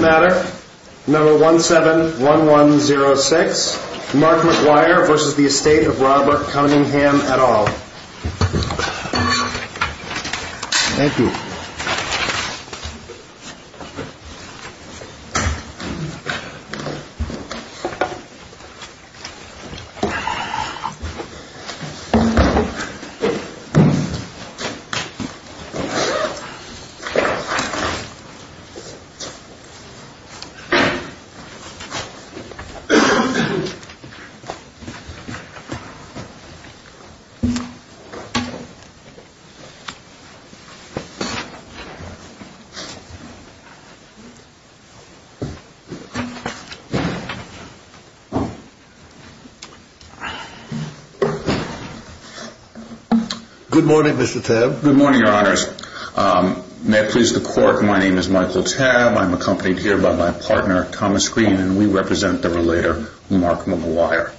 Matter number 171106 Mark McGuire v. Estate of Robert Cunningham et al. Good morning Mr. Tabb. Good morning your honors. May it please the court my name is Michael Tabb. I'm accompanied here by my partner Thomas Green and we represent the relator Mark McGuire.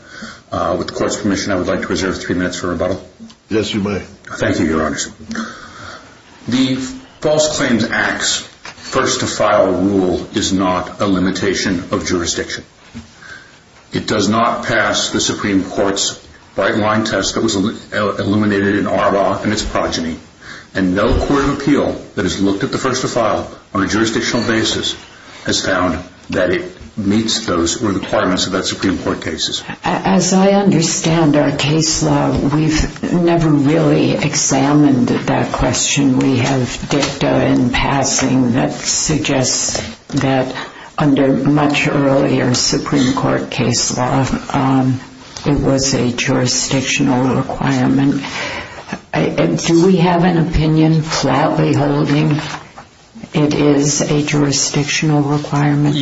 With the court's permission I would like to reserve three minutes for rebuttal. Yes you may. Thank you your honors. The False Claims Act's first to file rule is not a limitation of jurisdiction. It does not pass the Supreme Court's that was illuminated in our law and its progeny. And no court of appeal that has looked at the first to file on a jurisdictional basis has found that it meets those requirements of the Supreme Court cases. As I understand our case law we've never really examined that question. We have dicta in passing that suggests that under much earlier Supreme Court case law it was a jurisdictional requirement. Do we have an opinion flatly holding it is a jurisdictional requirement?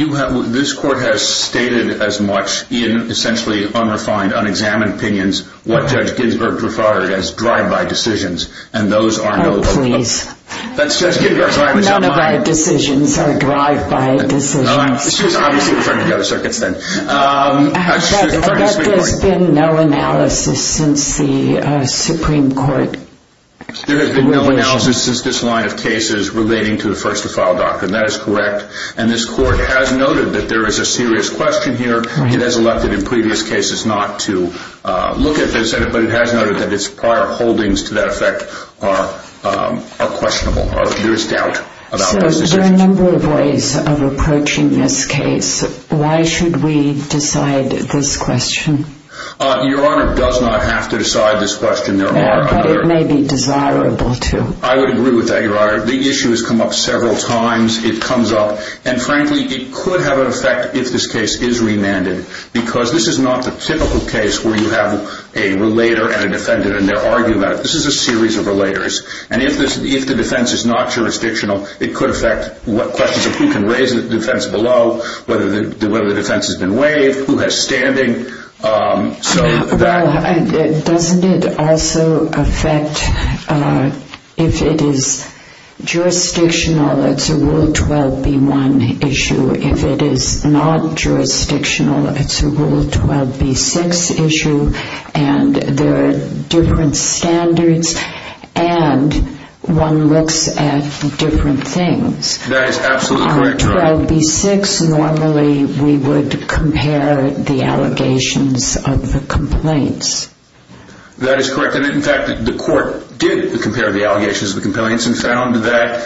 This court has stated as much in essentially unrefined unexamined opinions what Judge Ginsburg referred to as drive-by decisions None of our decisions are drive-by decisions. I bet there's been no analysis since the Supreme Court. There has been no analysis since this line of cases relating to the first to file doctrine. That is correct. And this court has noted that there is a serious question here. It has elected in previous cases not to look at this but it has noted that its prior holdings to that effect are questionable. There is doubt about those decisions. So there are a number of ways of approaching this case. Why should we decide this question? Your Honor, it does not have to decide this question. But it may be desirable to. I would agree with that, Your Honor. The issue has come up several times. It comes up and frankly it could have an effect if this case is remanded because this is not the typical case where you have a relator and a defendant and they argue about it. This is a series of relators. And if the defense is not jurisdictional, it could affect questions of who can raise the defense below, whether the defense has been waived, who has standing. Well, doesn't it also affect if it is jurisdictional, it's a Rule 12B1 issue. If it is not jurisdictional, it's a Rule 12B6 issue. And there are different standards and one looks at different things. Under Rule 12B6, normally we would compare the allegations of the complaints. That is correct. In fact, the court did compare the allegations of the complaints and found that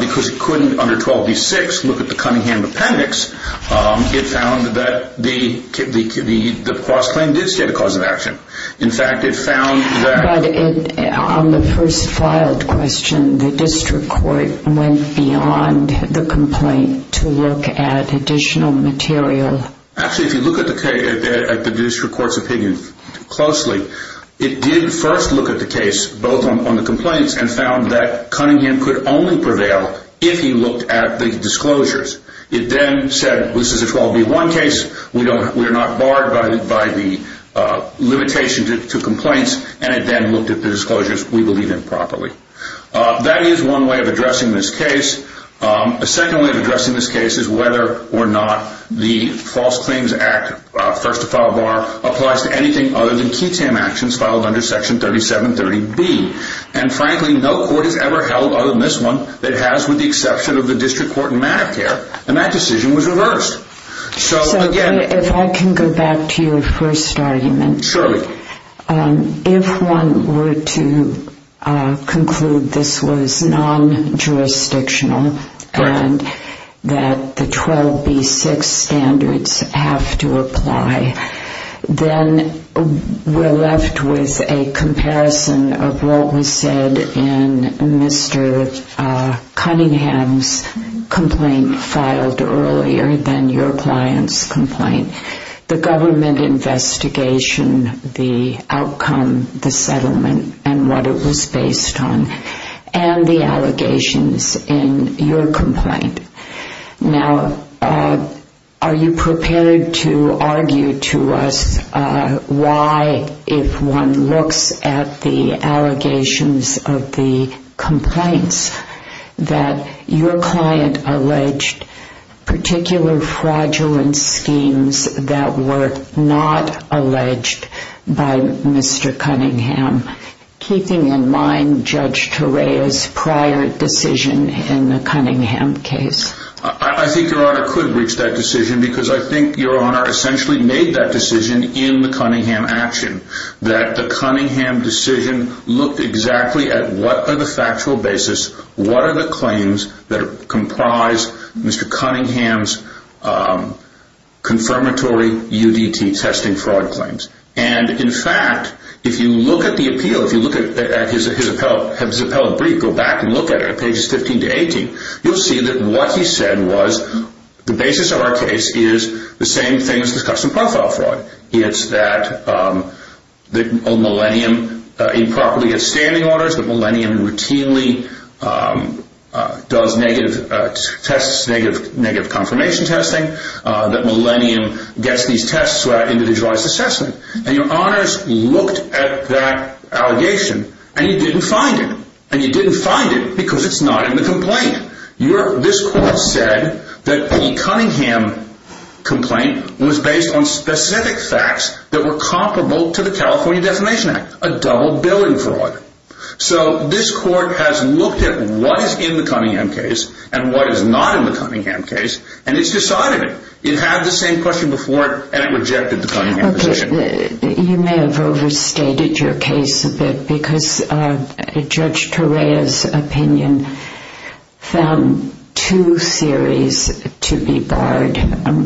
because it couldn't under 12B6 look at the Cunningham appendix, it found that the cross-claim did state a cause of action. In fact, it found that... Actually, if you look at the district court's opinion closely, it did first look at the case both on the complaints and found that Cunningham could only prevail if he looked at the disclosures. It then said this is a 12B1 case, we are not barred by the limitation to complaints and it then looked at the disclosures we believe in properly. That is one way of addressing this case. A second way of addressing this case is whether or not the False Claims Act First to File Bar applies to anything other than key tam actions filed under Section 3730B. And frankly, no court has ever held other than this one that has with the exception of the district court in Medicare and that decision was reversed. If I can go back to your first argument, if one were to conclude this was non-jurisdictional and that the 12B6 standards have to apply, then we're left with a comparison of what was said in Mr. Cunningham's complaint filed earlier than your client's complaint. The government investigation, the outcome, the settlement and what it was based on and the allegations in your complaint. Now, are you prepared to argue to us why if one looks at the allegations of the complaints that your client alleged particular fraudulent schemes that were not alleged by Mr. Cunningham? Keeping in mind Judge Torea's prior decision in the Cunningham case. I think your Honor could reach that decision because I think your Honor essentially made that decision in the Cunningham action. That the Cunningham decision looked exactly at what are the factual basis, what are the claims that comprise Mr. Cunningham's confirmatory UDT testing fraud claims. In fact, if you look at the appeal, if you look at his appellate brief, go back and look at it at pages 15 to 18, you'll see that what he said was the basis of our case is the same thing as the custom profile fraud. It's that a millennium improperly gets standing orders, that millennium routinely does negative tests, negative confirmation testing, that millennium gets these tests without individualized assessment. And your Honors looked at that allegation and you didn't find it. And you didn't find it because it's not in the complaint. This court said that the Cunningham complaint was based on specific facts that were comparable to the California Defamation Act, a double billing fraud. So this court has looked at what is in the Cunningham case and what is not in the Cunningham case and it's decided it. It had the same question before and it rejected the Cunningham decision. You may have overstated your case a bit because Judge Torea's opinion found two series to be barred,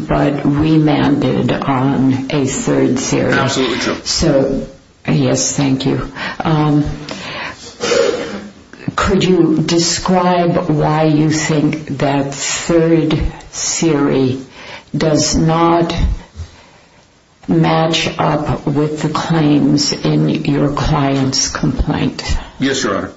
but remanded on a third series. Absolutely true. So, yes, thank you. Could you describe why you think that third series does not match up with the claims in your client's complaint? Yes, Your Honor.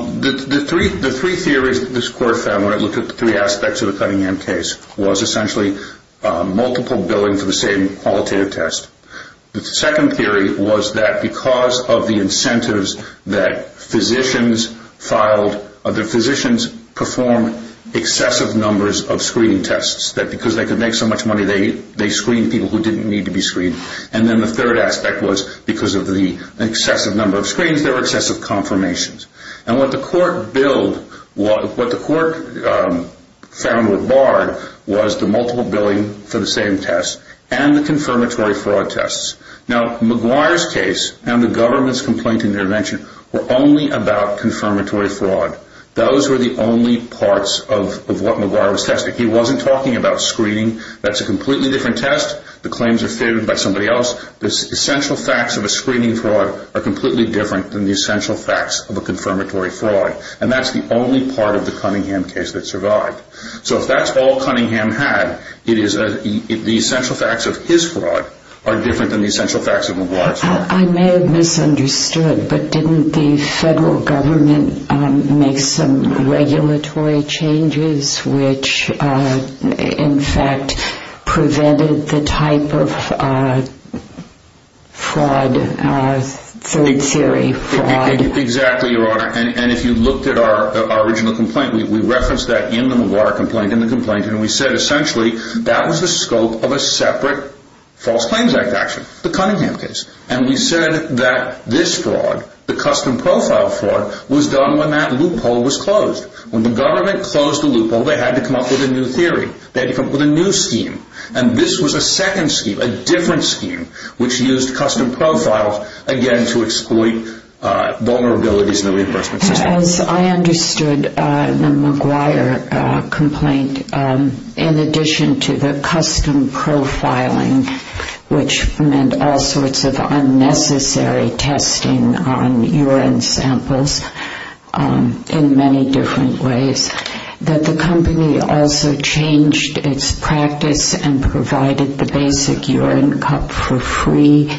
The three theories that this court found when it looked at the three aspects of the Cunningham case was essentially multiple billing for the same qualitative test. The second theory was that because of the incentives that physicians filed, the physicians performed excessive numbers of screening tests. That because they could make so much money, they screened people who didn't need to be screened. And then the third aspect was because of the excessive number of screens, there were excessive confirmations. And what the court found were barred was the multiple billing for the same test and the confirmatory fraud tests. Now, McGuire's case and the government's complaint intervention were only about confirmatory fraud. Those were the only parts of what McGuire was testing. He wasn't talking about screening. That's a completely different test. The claims are favored by somebody else. The essential facts of a screening fraud are completely different than the essential facts of a confirmatory fraud. And that's the only part of the Cunningham case that survived. So if that's all Cunningham had, the essential facts of his fraud are different than the essential facts of McGuire's fraud. I may have misunderstood, but didn't the federal government make some regulatory changes which, in fact, prevented the type of fraud, third theory fraud? Exactly, Your Honor. And if you looked at our original complaint, we referenced that in the McGuire complaint, in the complaint, and we said essentially that was the scope of a separate False Claims Act action, the Cunningham case. And we said that this fraud, the custom profile fraud, was done when that loophole was closed. When the government closed the loophole, they had to come up with a new theory. They had to come up with a new scheme. And this was a second scheme, a different scheme, which used custom profiles, again, to exploit vulnerabilities in the reimbursement system. As I understood the McGuire complaint, in addition to the custom profiling, which meant all sorts of unnecessary testing on urine samples in many different ways, that the company also changed its practice and provided the basic urine cup for free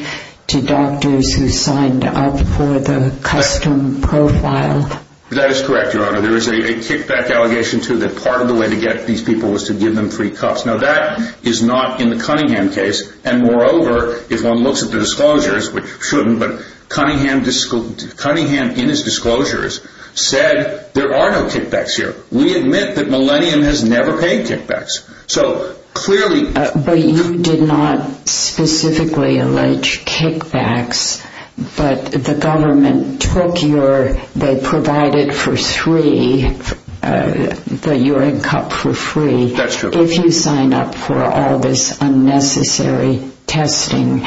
to doctors who signed up for the custom profile? That is correct, Your Honor. There is a kickback allegation, too, that part of the way to get these people was to give them free cups. Now, that is not in the Cunningham case. And moreover, if one looks at the disclosures, which shouldn't, but Cunningham in his disclosures said there are no kickbacks here. We admit that Millennium has never paid kickbacks. But you did not specifically allege kickbacks, but the government provided for three, the urine cup for free. That's true. But if you sign up for all this unnecessary testing,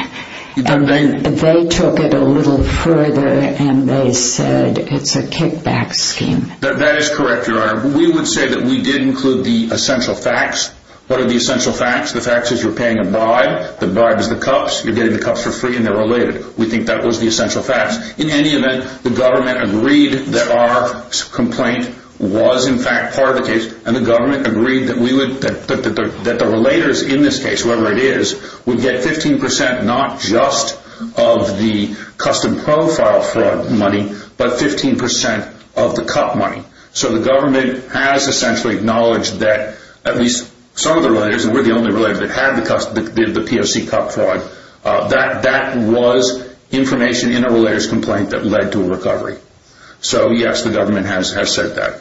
they took it a little further and they said it's a kickback scheme. That is correct, Your Honor. We would say that we did include the essential facts. What are the essential facts? The facts is you're paying a bribe. The bribe is the cups. You're getting the cups for free, and they're related. We think that was the essential facts. In any event, the government agreed that our complaint was, in fact, part of the case. And the government agreed that the relators in this case, whoever it is, would get 15% not just of the custom profile fraud money, but 15% of the cup money. So the government has essentially acknowledged that at least some of the relators, and we're the only relator that had the POC cup fraud, that that was information in a relator's complaint that led to a recovery. So, yes, the government has said that.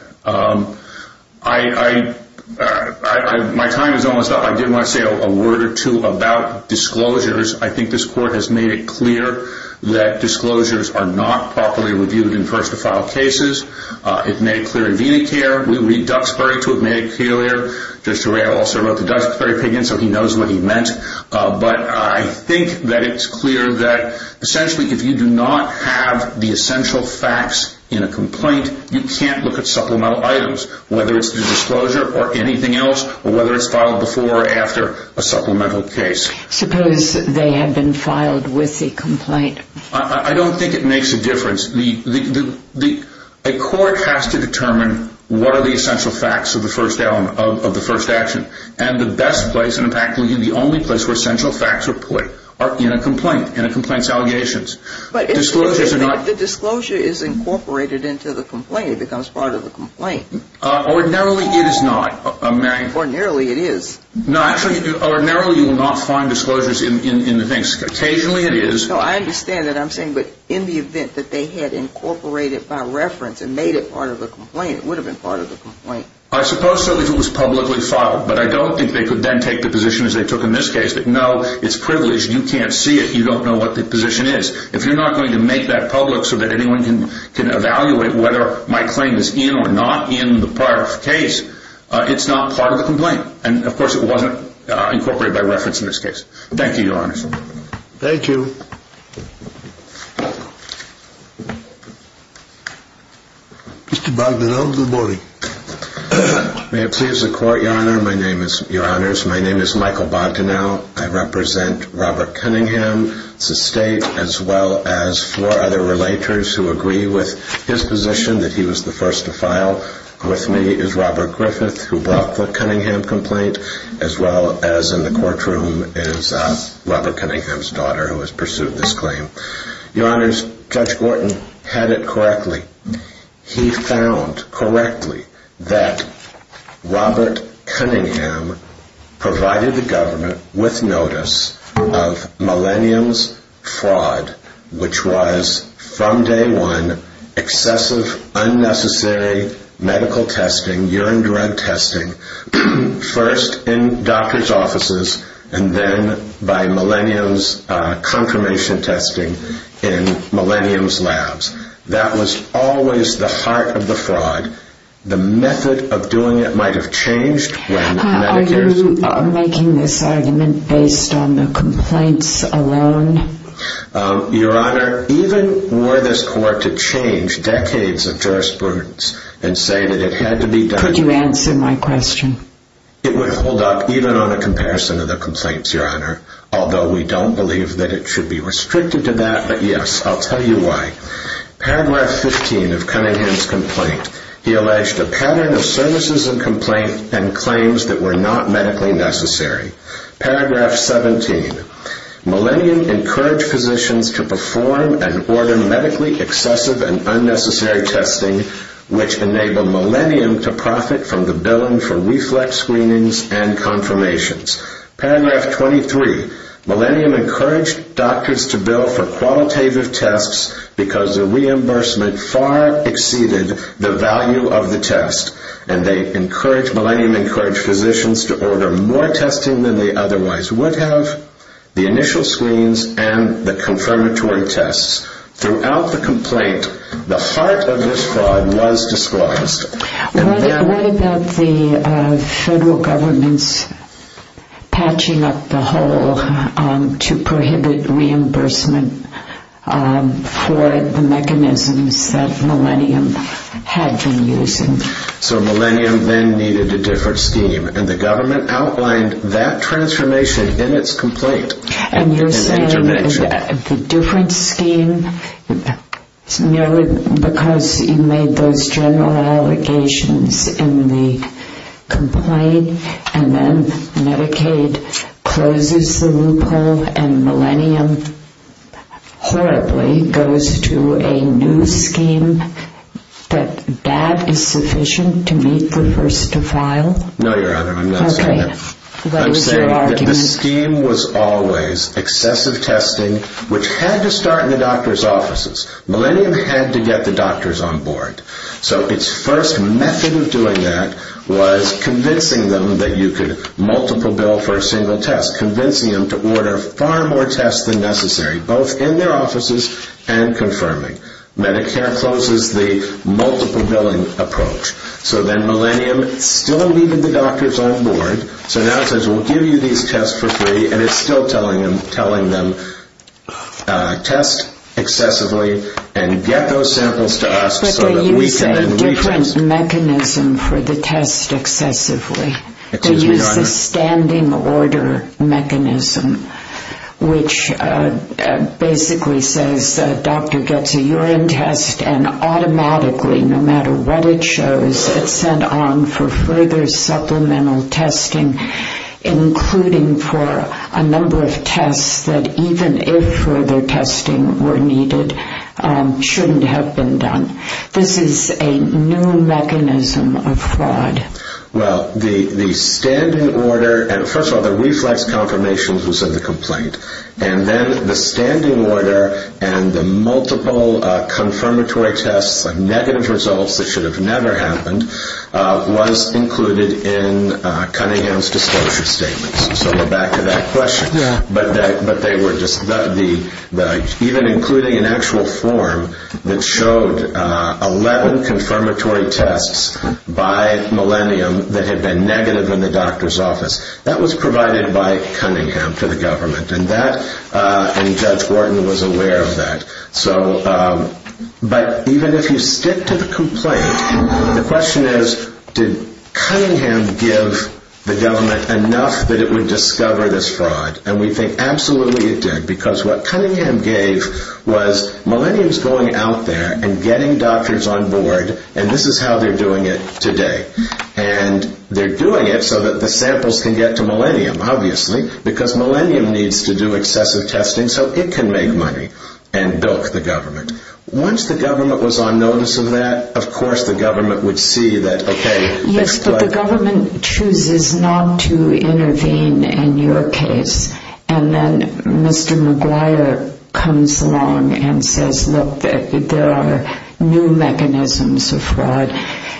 My time is almost up. I did want to say a word or two about disclosures. I think this Court has made it clear that disclosures are not properly reviewed in first-to-file cases. It made it clear in VeeleyCare. We read Duxbury to have made it clear. Judge Tureo also wrote the Duxbury opinion, so he knows what he meant. But I think that it's clear that, essentially, if you do not have the essential facts in a complaint, you can't look at supplemental items, whether it's the disclosure or anything else or whether it's filed before or after a supplemental case. Suppose they have been filed with the complaint. I don't think it makes a difference. A court has to determine what are the essential facts of the first action. And the best place and, in fact, the only place where essential facts are put are in a complaint, in a complaint's allegations. But the disclosure is incorporated into the complaint. It becomes part of the complaint. Ordinarily, it is not, Mary. Ordinarily, it is. No, actually, ordinarily, you will not find disclosures in the case. Occasionally, it is. No, I understand what I'm saying, but in the event that they had incorporated by reference and made it part of the complaint, it would have been part of the complaint. I suppose so if it was publicly filed. But I don't think they could then take the position, as they took in this case, that, no, it's privileged. You can't see it. You don't know what the position is. If you're not going to make that public so that anyone can evaluate whether my claim is in or not in the prior case, it's not part of the complaint. And, of course, it wasn't incorporated by reference in this case. Thank you, Your Honor. Thank you. Mr. Bogdanow, good morning. May it please the Court, Your Honor. Your Honors, my name is Michael Bogdanow. I represent Robert Cunningham's estate as well as four other relators who agree with his position that he was the first to file. With me is Robert Griffith, who brought the Cunningham complaint, as well as in the courtroom is Robert Cunningham's daughter, who has pursued this claim. Your Honors, Judge Gorton had it correctly. He found correctly that Robert Cunningham provided the government with notice of Millennium's fraud, which was, from day one, excessive, unnecessary medical testing, urine drug testing, first in doctors' offices and then by Millennium's confirmation testing in Millennium's labs. That was always the heart of the fraud. The method of doing it might have changed when Medicare's... Your Honor, even were this Court to change decades of jurisprudence and say that it had to be done... Could you answer my question? It would hold up even on a comparison of the complaints, Your Honor, although we don't believe that it should be restricted to that, but yes, I'll tell you why. Paragraph 15 of Cunningham's complaint, he alleged a pattern of services and complaints and claims that were not medically necessary. Paragraph 17. Millennium encouraged physicians to perform and order medically excessive and unnecessary testing, which enabled Millennium to profit from the billing for reflex screenings and confirmations. Paragraph 23. Millennium encouraged doctors to bill for qualitative tests because the reimbursement far exceeded the value of the test, and Millennium encouraged physicians to order more testing than they otherwise would have, the initial screens and the confirmatory tests. Throughout the complaint, the heart of this fraud was disclosed. What about the federal government's patching up the hole to prohibit reimbursement for the mechanisms that Millennium had been using? So Millennium then needed a different scheme, and the government outlined that transformation in its complaint. And you're saying that the different scheme, merely because you made those general allegations in the complaint, and then Medicaid closes the loophole, and Millennium horribly goes to a new scheme, that that is sufficient to meet the first to file? No, Your Honor, I'm not saying that. Okay, what is your argument? I'm saying that the scheme was always excessive testing, which had to start in the doctor's offices. Millennium had to get the doctors on board. So its first method of doing that was convincing them that you could multiple bill for a single test, convincing them to order far more tests than necessary, both in their offices and confirming. Medicare closes the multiple billing approach. So then Millennium still needed the doctors on board. So now it says, we'll give you these tests for free, and it's still telling them, test excessively and get those samples to us so that we can then re-test. But they use a different mechanism for the test excessively. They use the standing order mechanism, which basically says the doctor gets a urine test, and automatically, no matter what it shows, it's sent on for further supplemental testing, including for a number of tests that, even if further testing were needed, shouldn't have been done. This is a new mechanism of fraud. Well, the standing order, and first of all, the reflex confirmation was in the complaint. And then the standing order and the multiple confirmatory tests and negative results that should have never happened was included in Cunningham's disclosure statements. So we're back to that question. But they were just, even including an actual form that showed 11 confirmatory tests by Millennium that had been negative in the doctor's office. That was provided by Cunningham to the government, and Judge Wharton was aware of that. But even if you stick to the complaint, the question is, did Cunningham give the government enough that it would discover this fraud? And we think absolutely it did, because what Cunningham gave was Millennium's going out there and getting doctors on board, and this is how they're doing it today. And they're doing it so that the samples can get to Millennium, obviously, because Millennium needs to do excessive testing so it can make money and bilk the government. Once the government was on notice of that, of course the government would see that, okay. Yes, but the government chooses not to intervene in your case. And then Mr. McGuire comes along and says, look, there are new mechanisms of fraud.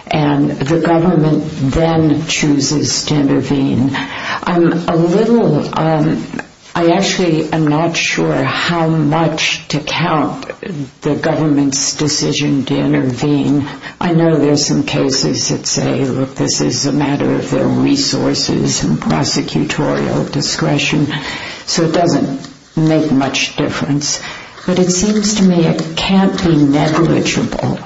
And the government then chooses to intervene. I'm a little, I actually am not sure how much to count the government's decision to intervene. I know there are some cases that say, look, this is a matter of their resources and prosecutorial discretion. So it doesn't make much difference. But it seems to me it can't be negligible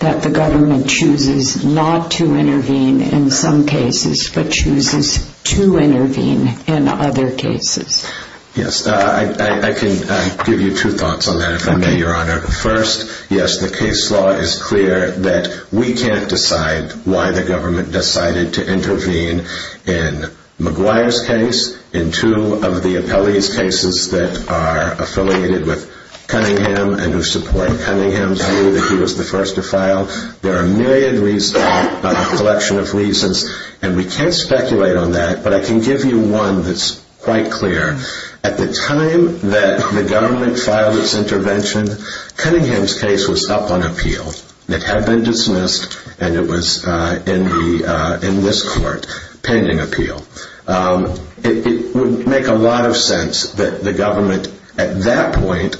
that the government chooses not to intervene in some cases but chooses to intervene in other cases. Yes, I can give you two thoughts on that, if I may, Your Honor. First, yes, the case law is clear that we can't decide why the government decided to intervene in McGuire's case, in two of the appellee's cases that are affiliated with Cunningham and who support Cunningham's view that he was the first to file. There are a million reasons, a collection of reasons, and we can't speculate on that. But I can give you one that's quite clear. At the time that the government filed its intervention, Cunningham's case was up on appeal. It had been dismissed, and it was in this court pending appeal. It would make a lot of sense that the government at that point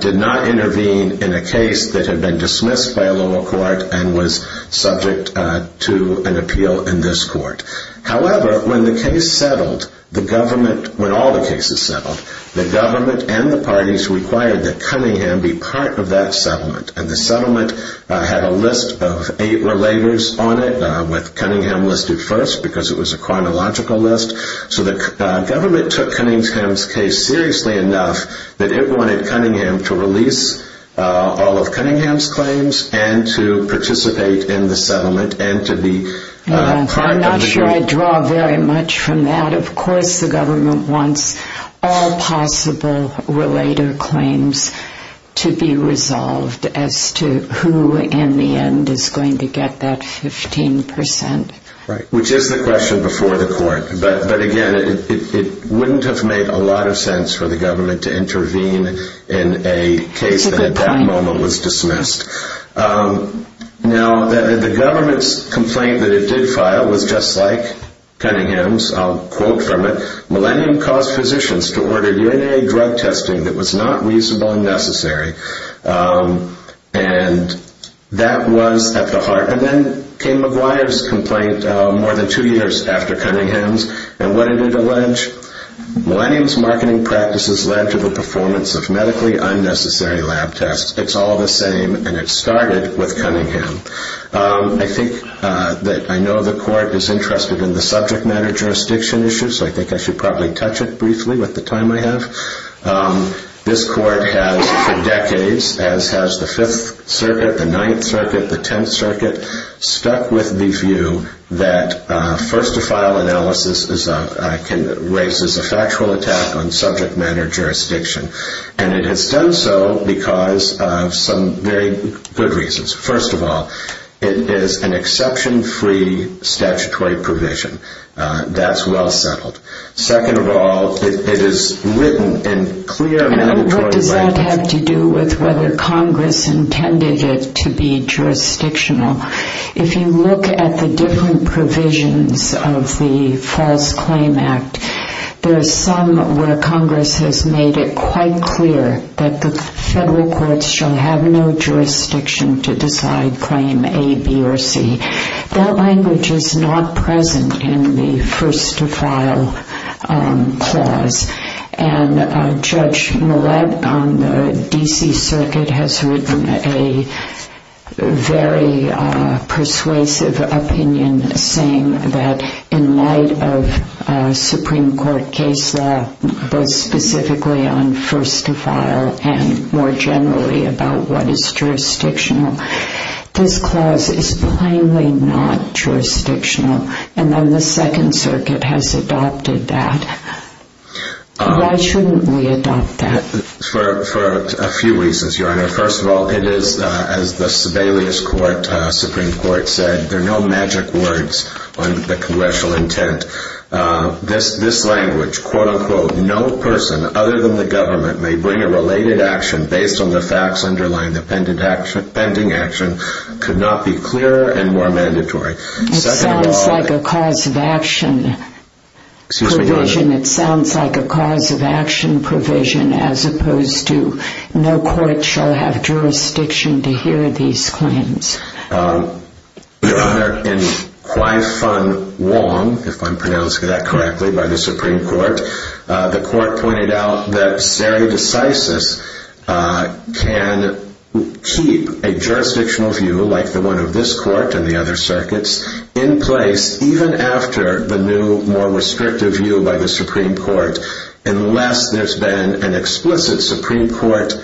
did not intervene in a case that had been dismissed by a lower court and was subject to an appeal in this court. However, when the case settled, when all the cases settled, the government and the parties required that Cunningham be part of that settlement. And the settlement had a list of eight relators on it, with Cunningham listed first because it was a chronological list. So the government took Cunningham's case seriously enough that it wanted Cunningham to release all of Cunningham's claims and to participate in the settlement and to be part of the case. I'm not sure I draw very much from that. Of course the government wants all possible relator claims to be resolved as to who in the end is going to get that 15%. Right, which is the question before the court. But again, it wouldn't have made a lot of sense for the government to intervene in a case that at that moment was dismissed. Now, the government's complaint that it did file was just like Cunningham's. I'll quote from it. Millennium caused physicians to order UNA drug testing that was not reasonable and necessary. And that was at the heart. And then came McGuire's complaint more than two years after Cunningham's. And what did it allege? Millennium's marketing practices led to the performance of medically unnecessary lab tests. It's all the same, and it started with Cunningham. I think that I know the court is interested in the subject matter jurisdiction issue, so I think I should probably touch it briefly with the time I have. This court has for decades, as has the Fifth Circuit, the Ninth Circuit, the Tenth Circuit, stuck with the view that first-to-file analysis raises a factual attack on subject matter jurisdiction. And it has done so because of some very good reasons. First of all, it is an exception-free statutory provision. That's well settled. Second of all, it is written in clear, mandatory language. It does not have to do with whether Congress intended it to be jurisdictional. If you look at the different provisions of the False Claim Act, there are some where Congress has made it quite clear that the federal courts shall have no jurisdiction to decide claim A, B, or C. That language is not present in the first-to-file clause. And Judge Millett on the D.C. Circuit has written a very persuasive opinion saying that in light of Supreme Court case law, both specifically on first-to-file and more generally about what is jurisdictional, this clause is plainly not jurisdictional. And then the Second Circuit has adopted that. Why shouldn't we adopt that? For a few reasons, Your Honor. First of all, it is, as the Sebelius Supreme Court said, there are no magic words on the congressional intent. This language, quote-unquote, no person other than the government may bring a related action based on the facts underlying the pending action, could not be clearer and more mandatory. It sounds like a cause-of-action provision as opposed to no court shall have jurisdiction to hear these claims. Your Honor, in Qui-Fun Wong, if I'm pronouncing that correctly, by the Supreme Court, the court pointed out that seri decisis can keep a jurisdictional view like the one of this court and the other circuits in place, even after the new, more restrictive view by the Supreme Court, unless there's been an explicit Supreme Court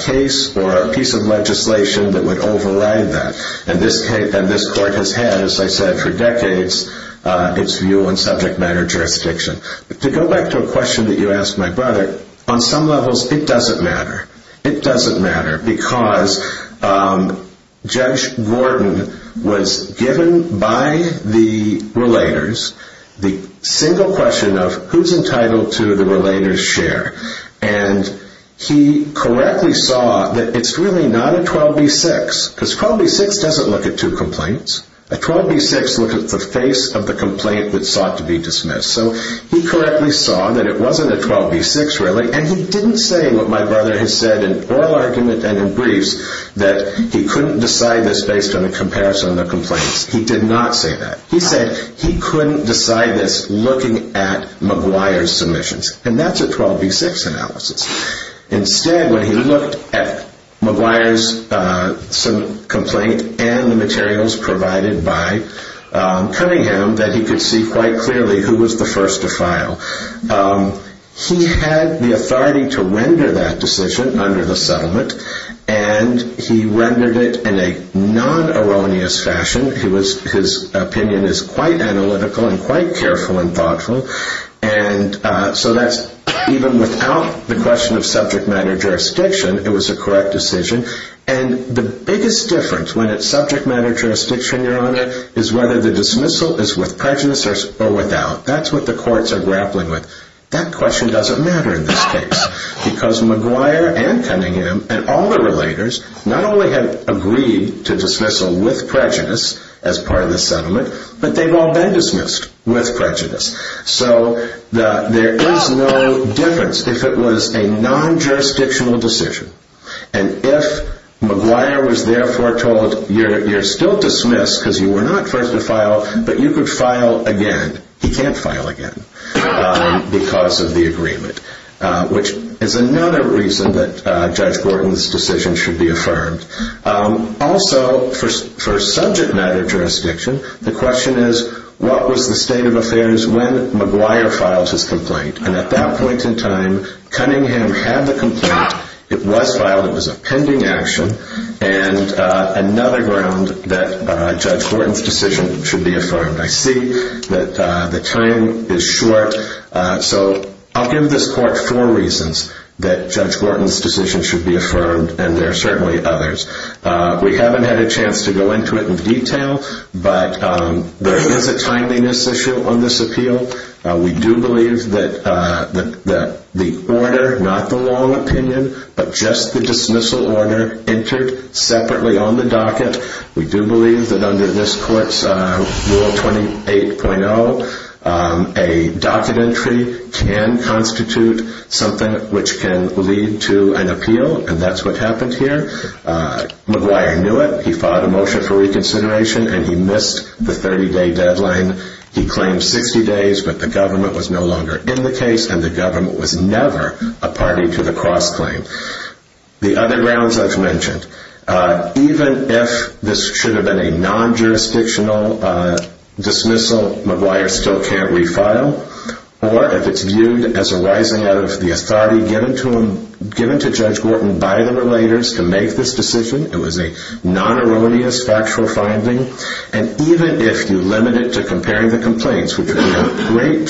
case or a piece of legislation that would override that. And this court has had, as I said, for decades, its view on subject matter jurisdiction. To go back to a question that you asked my brother, on some levels, it doesn't matter. It doesn't matter because Judge Gordon was given by the relators the single question of who's entitled to the relator's share. And he correctly saw that it's really not a 12b-6, because 12b-6 doesn't look at two complaints. A 12b-6 looks at the face of the complaint that sought to be dismissed. So he correctly saw that it wasn't a 12b-6, really. And he didn't say what my brother has said in oral argument and in briefs, that he couldn't decide this based on a comparison of the complaints. He did not say that. He said he couldn't decide this looking at McGuire's submissions. And that's a 12b-6 analysis. Instead, when he looked at McGuire's complaint and the materials provided by Cunningham, that he could see quite clearly who was the first to file. He had the authority to render that decision under the settlement, and he rendered it in a non-erroneous fashion. His opinion is quite analytical and quite careful and thoughtful. So even without the question of subject matter jurisdiction, it was a correct decision. And the biggest difference when it's subject matter jurisdiction, Your Honor, is whether the dismissal is with prejudice or without. That's what the courts are grappling with. That question doesn't matter in this case, because McGuire and Cunningham and all the relators not only had agreed to dismissal with prejudice as part of the settlement, but they've all been dismissed with prejudice. So there is no difference if it was a non-jurisdictional decision. And if McGuire was therefore told, you're still dismissed because you were not first to file, but you could file again. He can't file again because of the agreement, which is another reason that Judge Borton's decision should be affirmed. Also, for subject matter jurisdiction, the question is, what was the state of affairs when McGuire filed his complaint? And at that point in time, Cunningham had the complaint. It was filed. It was a pending action and another ground that Judge Borton's decision should be affirmed. I see that the time is short. So I'll give this court four reasons that Judge Borton's decision should be affirmed, and there are certainly others. We haven't had a chance to go into it in detail, but there is a timeliness issue on this appeal. We do believe that the order, not the long opinion, but just the dismissal order, entered separately on the docket. We do believe that under this court's Rule 28.0, a docket entry can constitute something which can lead to an appeal, and that's what happened here. McGuire knew it. He filed a motion for reconsideration, and he missed the 30-day deadline. He claimed 60 days, but the government was no longer in the case, and the government was never a party to the cross-claim. The other grounds I've mentioned. Even if this should have been a non-jurisdictional dismissal, McGuire still can't refile, or if it's viewed as arising out of the authority given to Judge Borton by the relators to make this decision. It was a non-erroneous factual finding, and even if you limit it to comparing the complaints, which would be a great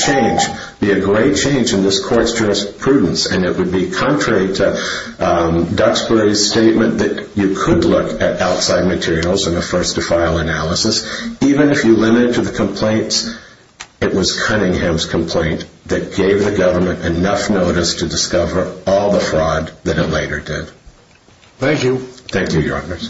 change in this court's jurisprudence, and it would be contrary to Duxbury's statement that you could look at outside materials in a first-to-file analysis, even if you limit it to the complaints, it was Cunningham's complaint that gave the government enough notice to discover all the fraud that it later did. Thank you. Thank you, Your Honors.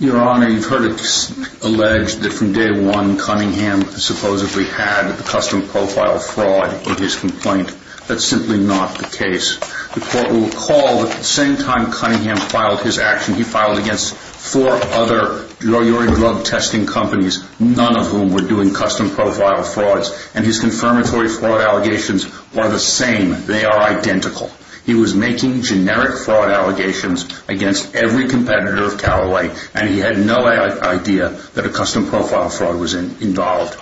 Your Honor, you've heard it alleged that from day one, Cunningham supposedly had a custom profile fraud in his complaint. That's simply not the case. The court will recall that at the same time Cunningham filed his action, he filed against four other drug testing companies, none of whom were doing custom profile frauds, and his confirmatory fraud allegations were the same. They are identical. He was making generic fraud allegations against every competitor of Callaway, and he had no idea that a custom profile fraud was involved.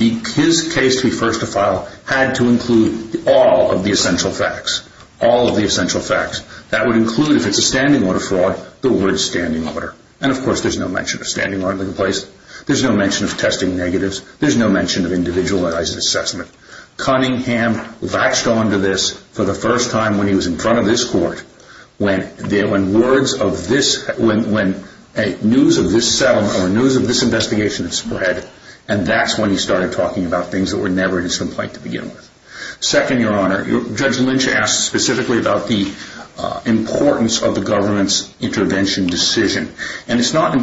His case to be first-to-file had to include all of the essential facts. All of the essential facts. That would include, if it's a standing order fraud, the word standing order. And, of course, there's no mention of standing order complaints. There's no mention of testing negatives. There's no mention of individualized assessment. Cunningham latched onto this for the first time when he was in front of this court, when news of this settlement or news of this investigation had spread, and that's when he started talking about things that were never in his complaint to begin with. Second, Your Honor, Judge Lynch asked specifically about the importance of the government's intervention decision. And it's not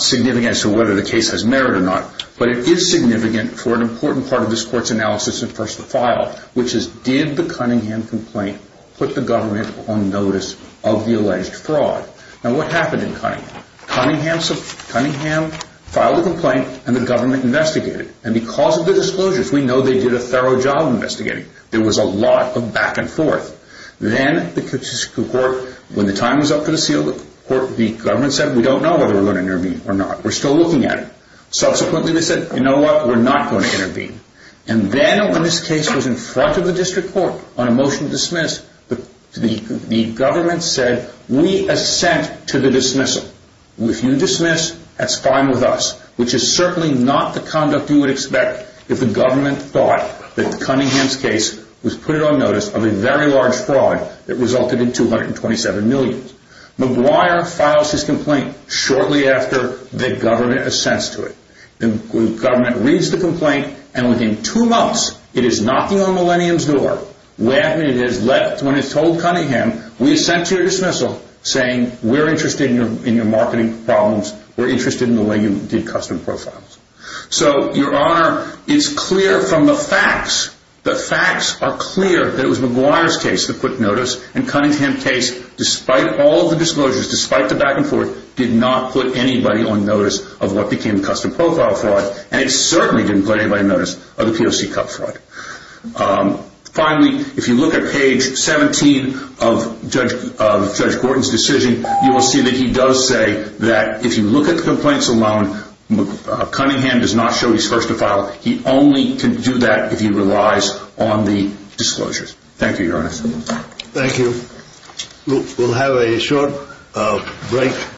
significant as to whether the case has merit or not, but it is significant for an important part of this court's analysis of first-to-file, which is, did the Cunningham complaint put the government on notice of the alleged fraud? Now, what happened in Cunningham? Cunningham filed a complaint, and the government investigated. And because of the disclosures, we know they did a thorough job investigating. There was a lot of back and forth. Then, when the time was up for the seal of the court, the government said, we don't know whether we're going to intervene or not. We're still looking at it. Subsequently, they said, you know what, we're not going to intervene. And then when this case was in front of the district court on a motion to dismiss, the government said, we assent to the dismissal. If you dismiss, that's fine with us, which is certainly not the conduct you would expect if the government thought that Cunningham's case was put on notice of a very large fraud that resulted in $227 million. McGuire files his complaint shortly after the government assents to it. The government reads the complaint, and within two months, it is knocking on Millennium's door. When it's told Cunningham, we assent to your dismissal, saying, we're interested in your marketing problems. We're interested in the way you did custom profiles. So, Your Honor, it's clear from the facts. The facts are clear that it was McGuire's case that put notice, and Cunningham's case, despite all the disclosures, despite the back and forth, did not put anybody on notice of what became custom profile fraud, and it certainly didn't put anybody on notice of the POC cup fraud. Finally, if you look at page 17 of Judge Gordon's decision, you will see that he does say that if you look at the complaints alone, Cunningham does not show he's first to file. He only can do that if he relies on the disclosures. Thank you, Your Honor. Thank you. We'll have a short break.